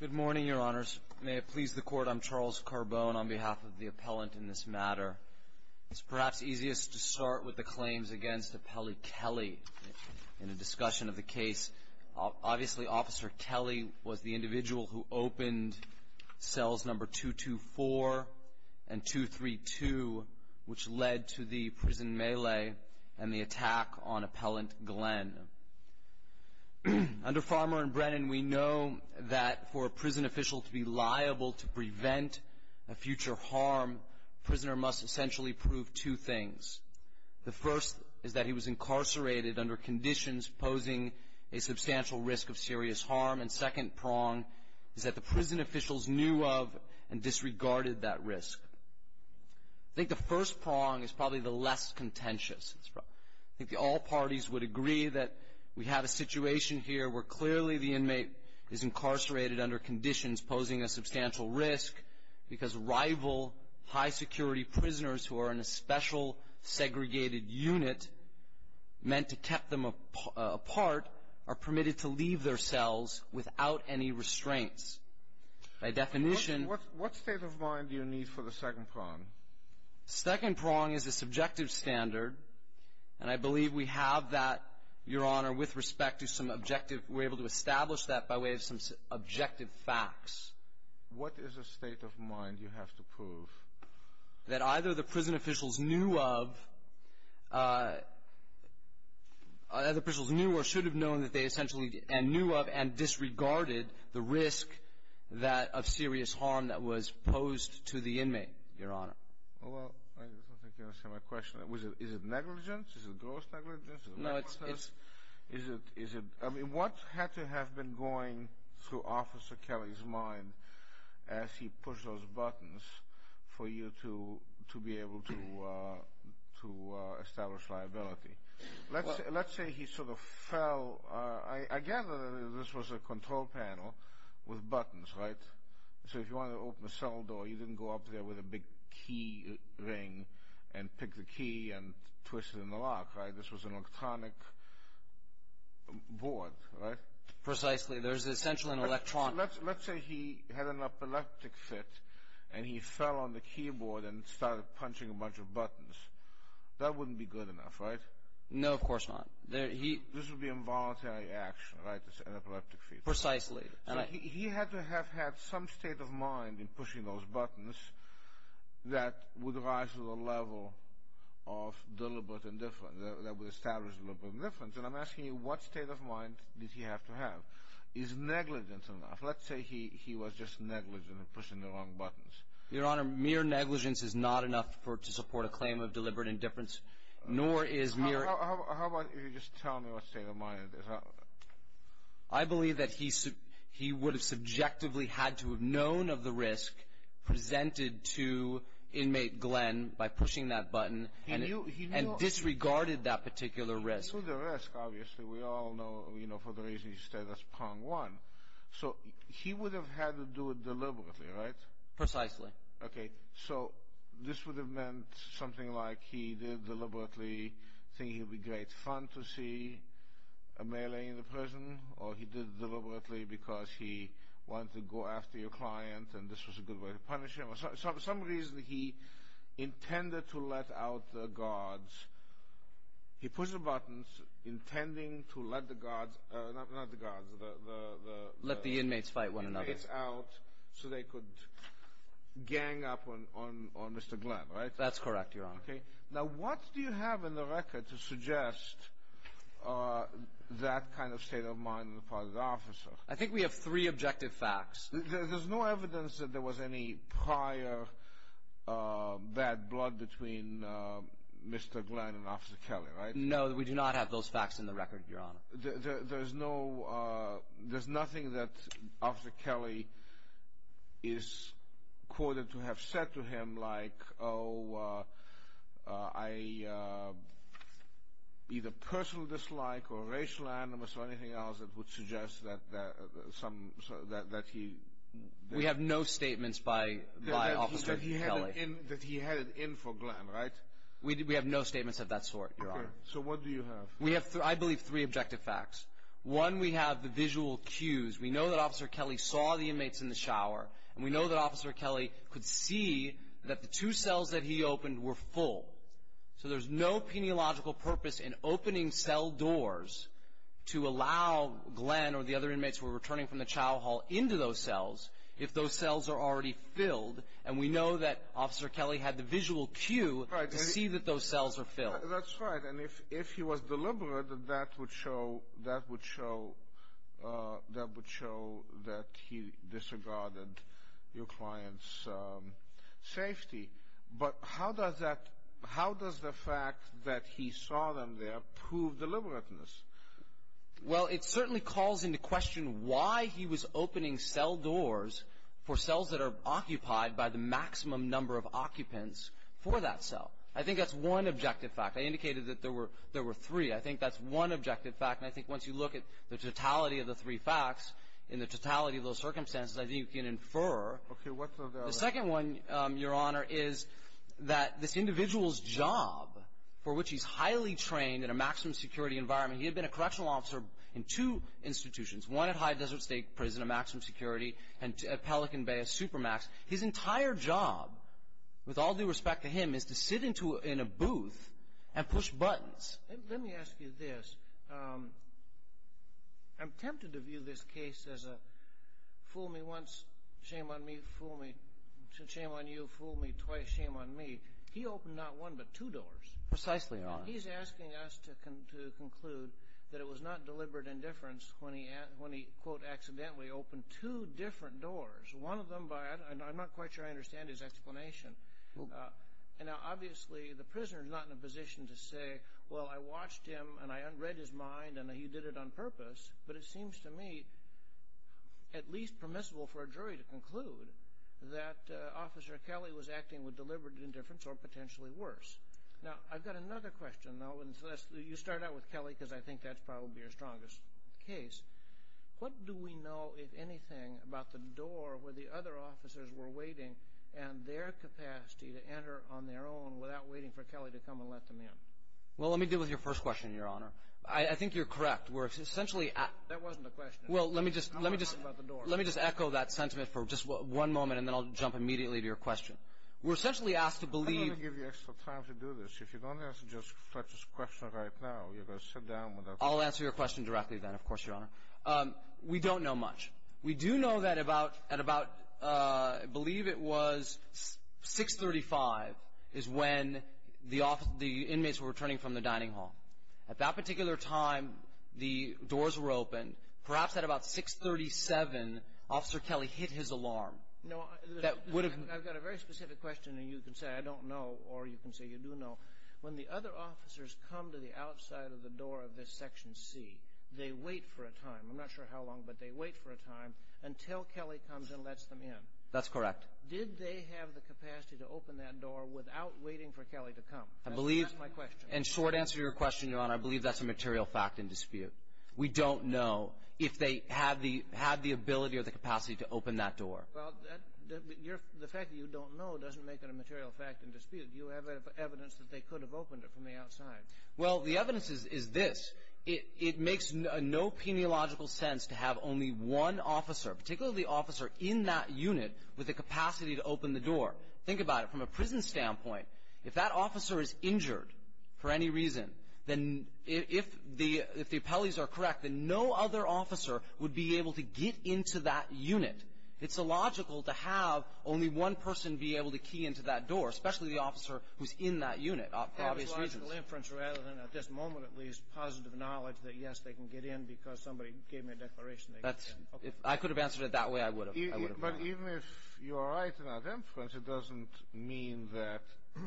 Good morning, Your Honors. May it please the Court, I'm Charles Carbone on behalf of the appellant in this matter. It's perhaps easiest to start with the claims against Appellee Kelly in a discussion of the case. Obviously, Officer Kelly was the individual who opened Cells No. 224 and 232, which led to the prison melee and the attack on Appellant Glenn. The Under Farmer and Brennan, we know that for a prison official to be liable to prevent a future harm, the prisoner must essentially prove two things. The first is that he was incarcerated under conditions posing a substantial risk of serious harm, and the second prong is that the prison officials knew of and disregarded that risk. I think the first prong is probably the less contentious. I think all parties would agree that we have a situation here where clearly the inmate is incarcerated under conditions posing a substantial risk because rival high-security prisoners who are in a special segregated unit meant to keep them apart are permitted to leave their cells without any restraints. By definition — What state of mind do you need for the second prong? The second prong is the subjective standard, and I believe we have that, Your Honor, with respect to some objective — we're able to establish that by way of some objective facts. What is the state of mind you have to prove? That either the prison officials knew of — that the prison officials knew or should have known that they essentially — and knew of and disregarded the risk that — of serious harm that was posed to the inmate, Your Honor. Well, I don't think you understand my question. Is it negligence? Is it gross negligence? No, it's — Is it — I mean, what had to have been going through Officer Kelly's mind as he pushed those buttons for you to be able to establish liability? Let's say he sort of fell — I mean, this was a control panel with buttons, right? So if you wanted to open a cell door, you didn't go up there with a big key ring and pick the key and twist it in the lock, right? This was an electronic board, right? Precisely. There's essentially an electronic — Let's say he had an epileptic fit and he fell on the keyboard and started punching a bunch of buttons. That wouldn't be good enough, right? No, of course not. He — This would be involuntary action, right, this epileptic fit? Precisely. So he had to have had some state of mind in pushing those buttons that would rise to the level of deliberate indifference, that would establish deliberate indifference. And I'm asking you, what state of mind did he have to have? Is negligence enough? Let's say he was just negligent in pushing the wrong buttons. Your Honor, mere negligence is not enough to support a claim of deliberate indifference, nor is mere — How about you just tell me what state of mind it is? I believe that he would have subjectively had to have known of the risk presented to inmate Glenn by pushing that button and disregarded that particular risk. He knew the risk, obviously. We all know, you know, for the reason he stated, that's prong one. So he would have had to do it deliberately, right? Precisely. Okay. So this would have meant something like he did deliberately, thinking it would be great fun to see a melee in the prison, or he did it deliberately because he wanted to go after your client and this was a good way to punish him. For some reason he intended to let out the guards. He pushed the buttons intending to let the guards — not the guards, the — Let the inmates fight one another. Let the inmates out so they could gang up on Mr. Glenn, right? That's correct, Your Honor. Okay. Now what do you have in the record to suggest that kind of state of mind on the part of the officer? I think we have three objective facts. There's no evidence that there was any prior bad blood between Mr. Glenn and Officer Kelly, right? No, we do not have those facts in the record, Your Honor. There's no — there's nothing that Officer Kelly is quoted to have said to him like, oh, I — either personal dislike or racial animus or anything else that would suggest that some — that he — We have no statements by Officer Kelly. That he had it in for Glenn, right? We have no statements of that sort, Your Honor. Okay. So what do you have? We have, I believe, three objective facts. One, we have the visual cues. We know that Officer Kelly saw the inmates in the shower, and we know that Officer Kelly could see that the two cells that he opened were full. So there's no peniological purpose in opening cell doors to allow Glenn or the other inmates who were returning from the child hall into those cells if those cells are already filled. And we know that Officer Kelly had the visual cue to see that those cells were filled. That's right. And if he was deliberate, that would show — that would show — that would show that he disregarded your client's safety. But how does that — how does the fact that he saw them there prove deliberateness? Well, it certainly calls into question why he was opening cell doors for cells that are occupied by the maximum number of occupants for that cell. I think that's one objective fact. I indicated that there were — there were three. I think that's one objective fact. And I think once you look at the totality of the three facts and the totality of those circumstances, I think you can infer. Okay. What's the other — The second one, Your Honor, is that this individual's job, for which he's highly trained in a maximum security environment — he had been a correctional officer in two institutions, one at High Desert State Prison, a maximum security, and at Pelican Bay, a supermax. His entire job, with all due respect to him, is to sit in a booth and push buttons. Let me ask you this. I'm tempted to view this case as a fool me once, shame on me, fool me — shame on you, fool me twice, shame on me. He opened not one but two doors. Precisely, Your Honor. He's asking us to conclude that it was not deliberate indifference when he, quote, accidentally opened two different doors, one of them by — I'm not quite sure I understand his explanation. Now, obviously, the prisoner's not in a position to say, well, I watched him and I read his mind and he did it on purpose, but it seems to me at least permissible for a jury to conclude that Officer Kelly was acting with deliberate indifference or potentially worse. Now, I've got another question, though, and you start out with Kelly because I think that's probably your strongest case. What do we know, if anything, about the door where the other officers were waiting and their capacity to enter on their own without waiting for Kelly to come and let them in? Well, let me deal with your first question, Your Honor. I think you're correct. We're essentially — That wasn't a question. Well, let me just — I'm not talking about the door. Let me just echo that sentiment for just one moment and then I'll jump immediately to your question. We're essentially asked to believe — I'm not going to give you extra time to do this. If you don't answer just Fletcher's question right now, you're going to sit down without — I'll answer your question directly then, of course, Your Honor. We don't know much. We do know that at about — I believe it was 635 is when the inmates were returning from the dining hall. At that particular time, the doors were open. Perhaps at about 637, Officer Kelly hit his alarm. No, I've got a very specific question and you can say I don't know or you can say you do know. When the other officers come to the outside of the door of this Section C, they wait for a time. I'm not sure how long, but they wait for a time until Kelly comes and lets them in. That's correct. Did they have the capacity to open that door without waiting for Kelly to come? I believe — That's my question. In short answer to your question, Your Honor, I believe that's a material fact in dispute. We don't know if they had the ability or the capacity to open that door. Well, the fact that you don't know doesn't make it a material fact in dispute. You have evidence that they could have opened it from the outside. Well, the evidence is this. It makes no peniological sense to have only one officer, particularly the officer in that unit, with the capacity to open the door. Think about it from a prison standpoint. If that officer is injured for any reason, then if the appellees are correct, then no other officer would be able to get into that unit. It's illogical to have only one person be able to key into that door, especially the officer who's in that unit for obvious reasons. It's logical inference rather than, at this moment at least, positive knowledge that, yes, they can get in because somebody gave me a declaration they could get in. If I could have answered it that way, I would have. But even if you are right in that inference, it doesn't mean that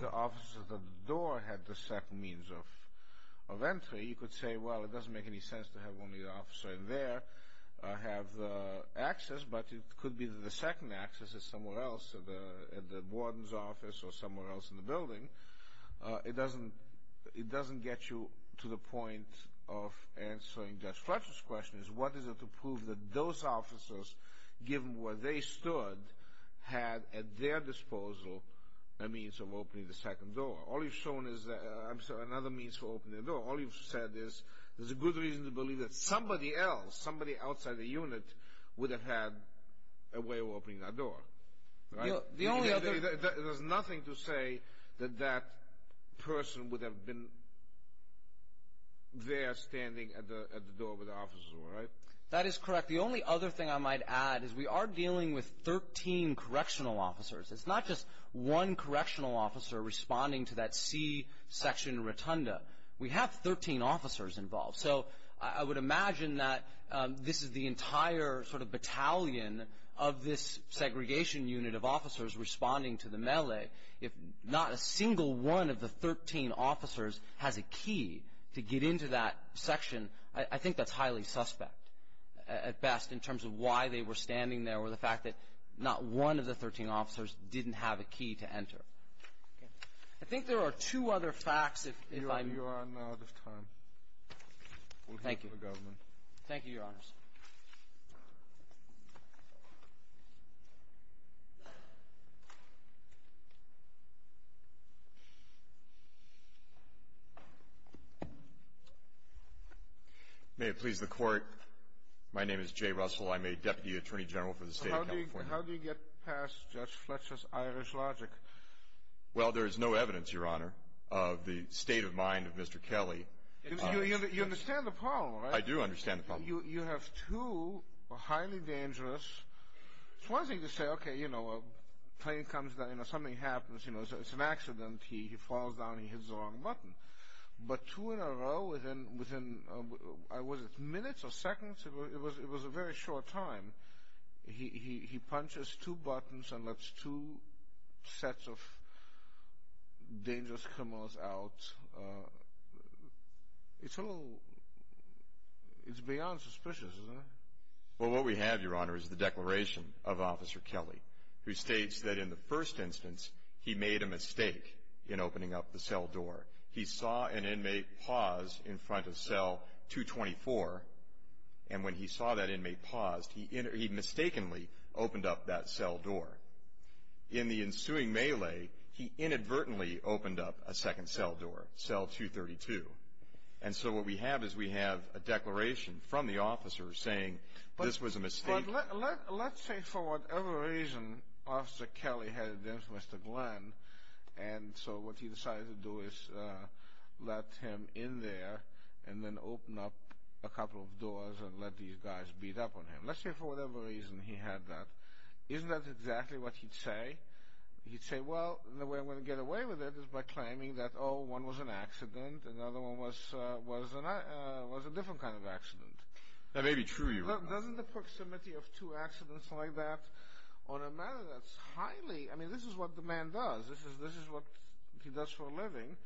the officer at the door had the second means of entry. You could say, well, it doesn't make any sense to have only the officer in there have access, but it could be that the second access is somewhere else, at the warden's office or somewhere else in the building. It doesn't get you to the point of answering Judge Fletcher's question. What is it to prove that those officers, given where they stood, had at their disposal a means of opening the second door? All you've shown is another means to open the door. All you've said is there's a good reason to believe that somebody else, somebody outside the unit, would have had a way of opening that door. There's nothing to say that that person would have been there standing at the door where the officers were, right? That is correct. The only other thing I might add is we are dealing with 13 correctional officers. It's not just one correctional officer responding to that C-section rotunda. We have 13 officers involved. I would imagine that this is the entire battalion of this segregation unit of officers responding to the melee. If not a single one of the 13 officers has a key to get into that section, I think that's highly suspect, at best, in terms of why they were standing there or the fact that not one of the 13 officers didn't have a key to enter. I think there are two other facts. You are out of time. We'll hear from the government. Thank you, Your Honors. May it please the Court. My name is Jay Russell. I'm a Deputy Attorney General for the State of California. How do you get past Judge Fletcher's Irish logic? Well, there is no evidence, Your Honor, of the state of mind of Mr. Kelly. You understand the problem, right? I do understand the problem. You have two highly dangerous... It's one thing to say, okay, a plane comes down, something happens, it's an accident, he falls down, he hits the wrong button. But two in a row, within minutes or seconds, it was a very short time, he punches two buttons and lets two sets of dangerous criminals out. It's a little... It's beyond suspicious, isn't it? Well, what we have, Your Honor, is the declaration of Officer Kelly, who states that in the first instance, he made a mistake in opening up the cell door. He saw an inmate pause in front of cell 224, and when he saw that inmate paused, he mistakenly opened up that cell door. In the ensuing melee, he inadvertently opened up a second cell door, cell 232. And so what we have is we have a declaration from the officer saying this was a mistake... But let's say, for whatever reason, Officer Kelly headed in for Mr. Glenn, and so what he decided to do is let him in there and then open up a couple of doors and let these guys beat up on him. Let's say, for whatever reason, he had that. Isn't that exactly what he'd say? He'd say, well, the way I'm going to get away with it is by claiming that, oh, one was an accident, another one was a different kind of accident. That may be true, Your Honor. Doesn't the proximity of two accidents like that on a matter that's highly... I mean, this is what the man does. This is what he does for a living.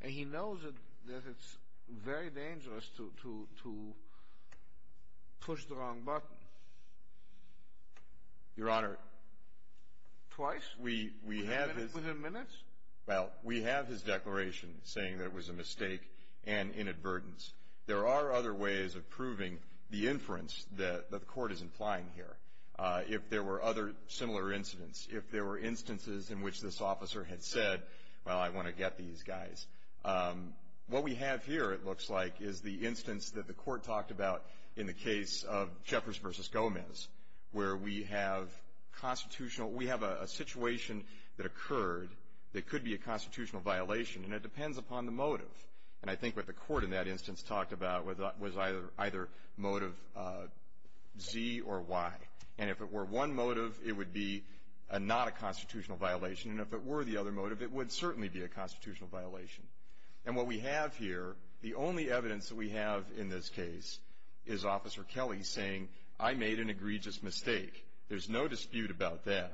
And he knows that it's very dangerous to push the wrong button. Your Honor... Twice? We have his... Within minutes? Well, we have his declaration saying that it was a mistake and inadvertence. There are other ways of proving the inference that the Court is implying here. If there were other similar incidents, if there were instances in which this officer had said, well, I want to get these guys. What we have here, it looks like, is the instance that the Court talked about in the case of Jeffress v. Gomez, where we have constitutional... We have a situation that occurred that could be a constitutional violation, and it depends upon the motive. And I think what the Court, in that instance, talked about was either motive Z or Y. And if it were one motive, it would be not a constitutional violation. And if it were the other motive, it would certainly be a constitutional violation. And what we have here, the only evidence that we have in this case is Officer Kelly saying, I made an egregious mistake. There's no dispute about that.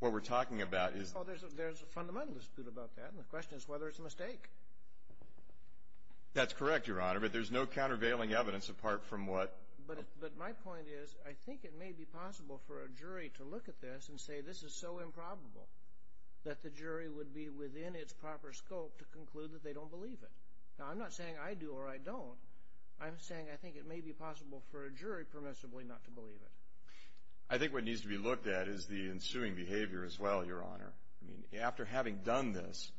What we're talking about is... Well, there's a fundamental dispute about that, and the question is whether it's a mistake. That's correct, Your Honor, but there's no countervailing evidence apart from what... But my point is, I think it may be possible for a jury to look at this and say this is so improbable that the jury would be within its proper scope to conclude that they don't believe it. Now, I'm not saying I do or I don't. I'm saying I think it may be possible for a jury, permissibly, not to believe it. I think what needs to be looked at is the ensuing behavior as well, Your Honor. I mean, after having done this,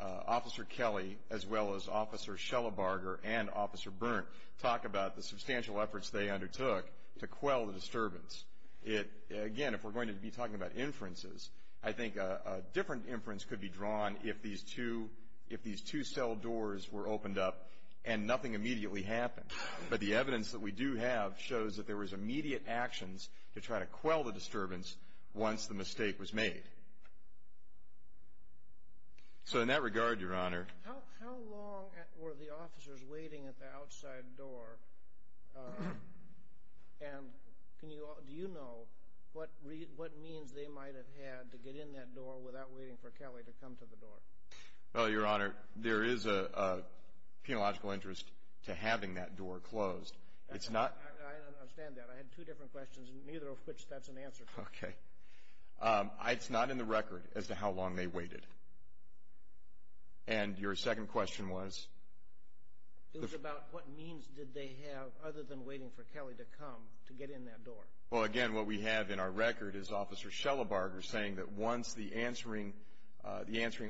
Officer Kelly, as well as Officer Schellabarger and Officer Berndt, talk about the substantial efforts they undertook to quell the disturbance. Again, if we're going to be talking about inferences, I think a different inference could be drawn if these two cell doors were opened up and nothing immediately happened. But the evidence that we do have shows that there was immediate actions to try to quell the disturbance once the mistake was made. So in that regard, Your Honor... How long were the officers waiting at the outside door? And do you know what means they might have had to get in that door without waiting for Kelly to come to the door? Well, Your Honor, there is a penological interest to having that door closed. It's not... I understand that. I had two different questions and neither of which that's an answer to. Okay. It's not in the record as to how long they waited. And your second question was? It was about what means did they have other than waiting for Kelly to come to get in that door. Well, again, what we have in our record is Officer Schellabarger saying that once the answering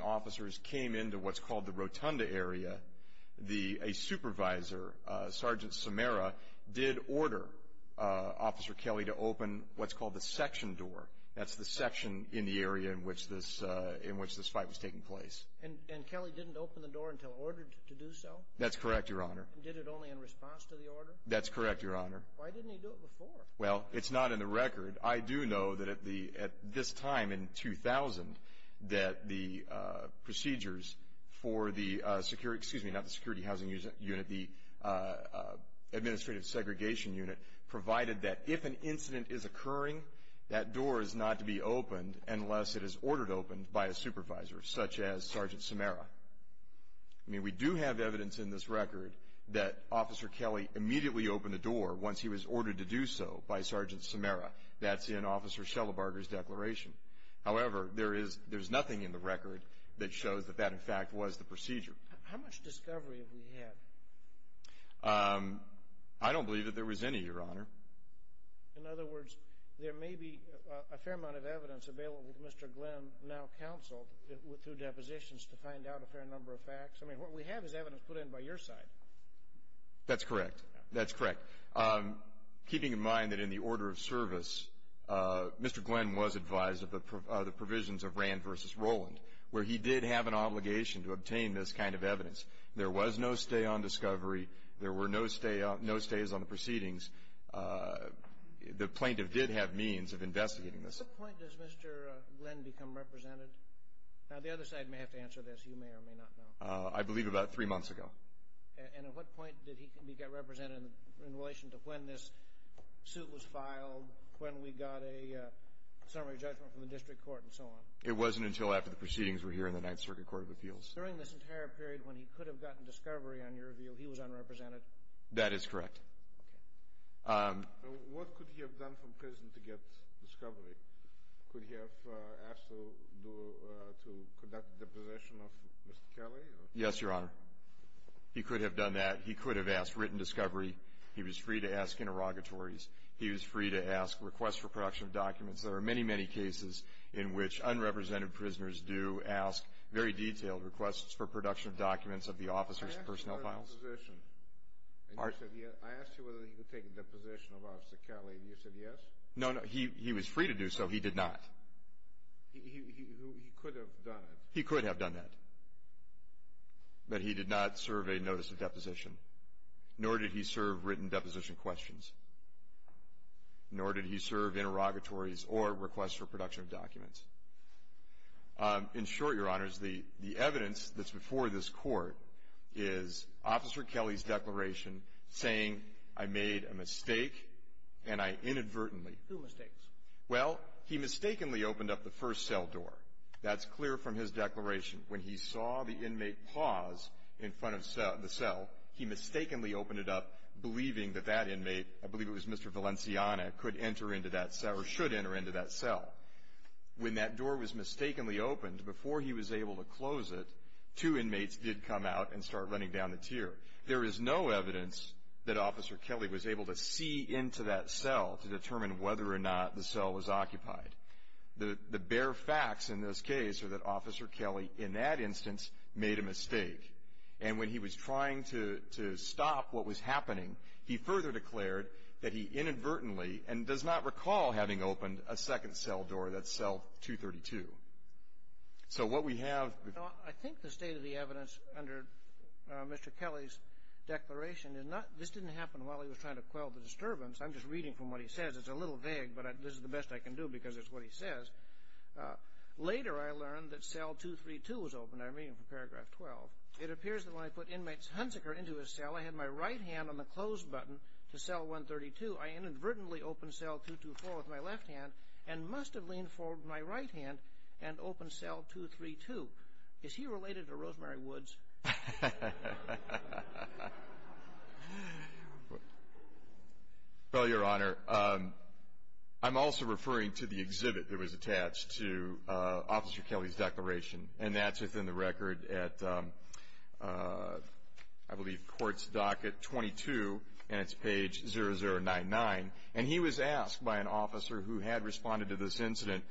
officers came into what's called the rotunda area, a supervisor, Sergeant Samara, did order Officer Kelly to open what's called the section door. That's the section in the area in which this fight was taking place. And Kelly didn't open the door until ordered to do so? That's correct, Your Honor. Did it only in response to the order? That's correct, Your Honor. Why didn't he do it before? Well, it's not in the record. I do know that at this time, in 2000, that the procedures for the security, excuse me, not the Security Housing Unit, the Administrative Segregation Unit, provided that if an incident is occurring, that door is not to be opened unless it is ordered opened by a supervisor, such as Sergeant Samara. I mean, we do have evidence in this record that Officer Kelly immediately opened a door once he was ordered to do so by Sergeant Samara. That's in Officer Schellabarger's declaration. However, there's nothing in the record that shows that that, in fact, was the procedure. How much discovery have we had? I don't believe that there was any, Your Honor. In other words, there may be a fair amount of evidence available to Mr. Glynn now counseled through depositions to find out a fair number of facts? I mean, what we have is evidence put in by your side. That's correct. That's correct. Keeping in mind that in the order of service, Mr. Glynn was advised of the provisions of Rand v. Roland, where he did have an obligation to obtain this kind of evidence. There was no stay on discovery. There were no stays on the proceedings. The plaintiff did have means of investigating this. At what point does Mr. Glynn become represented? Now, the other side may have to answer this. You may or may not know. I believe about three months ago. And at what point did he get represented in relation to when this suit was filed, when we got a summary judgment from the district court and so on? It wasn't until after the proceedings were here in the Ninth Circuit Court of Appeals. During this entire period when he could have gotten discovery on your view, he was unrepresented? That is correct. Okay. What could he have done from prison to get discovery? Could he have asked to conduct a deposition of Mr. Kelly? Yes, Your Honor. He could have done that. He could have asked written discovery. He was free to ask interrogatories. He was free to ask requests for production of documents. There are many, many cases in which unrepresented prisoners do ask very detailed requests for production of documents of the officer's personnel files. I asked you whether he could take a deposition of Officer Kelly and you said yes? No, no. He was free to do so. He did not. He could have done it. He could have done that. But he did not serve a notice of deposition. Nor did he serve written deposition questions. Nor did he serve interrogatories or requests for production of documents. In short, Your Honors, the evidence that's before this Court is Officer Kelly's declaration saying, I made a mistake and I inadvertently Who mistakes? Well, he mistakenly opened up the first cell door. That's clear from his declaration. When he saw the inmate pause in front of the cell, he mistakenly opened it up believing that that inmate I believe it was Mr. Valenciana could enter into that cell or should enter into that cell. When that door was mistakenly opened before he was able to close it, two inmates did come out and start running down the tier. There is no evidence that Officer Kelly was able to see into that cell to determine whether or not the cell was occupied. The bare facts in this case are that Officer Kelly in that instance made a mistake. And when he was trying to open that cell, he further declared that he inadvertently and does not recall having opened a second cell door that's cell 232. So, what we have I think the state of the evidence under Mr. Kelly's declaration is not this didn't happen while he was trying to quell the disturbance. I'm just reading from what he says. It's a little vague, but this is the best I can do because it's what he says. Later, I learned that cell 232 was opened. I'm reading from paragraph 12. It appears that when I put inmates Hunziker into a cell, I had my right hand on the close button to cell 132. I inadvertently opened cell 224 with my left hand and must have leaned forward with my right hand and opened cell 232. Is he related to Rosemary Woods? Well, Your Honor, I'm also referring to the exhibit that was attached to Officer Kelly's declaration. And that's within the record at, I believe, Courts Docket 22, and it's page 0099. And he was asked by an officer who had responded to this incident,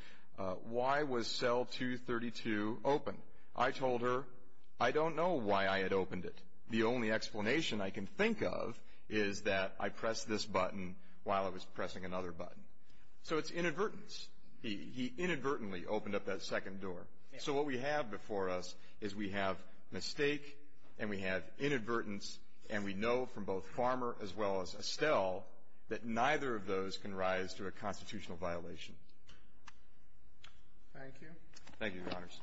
why was cell 232 open? I told her, I don't know why I had opened it. The only explanation I can think of is that I pressed this button while I was pressing another button. So, it's inadvertence. He inadvertently opened up that second door. So, what we have before us is we have mistake and we have inadvertence and we know from both Farmer as well as Estelle that neither of those constitutional violation. Thank you. Thank you, Your Honors.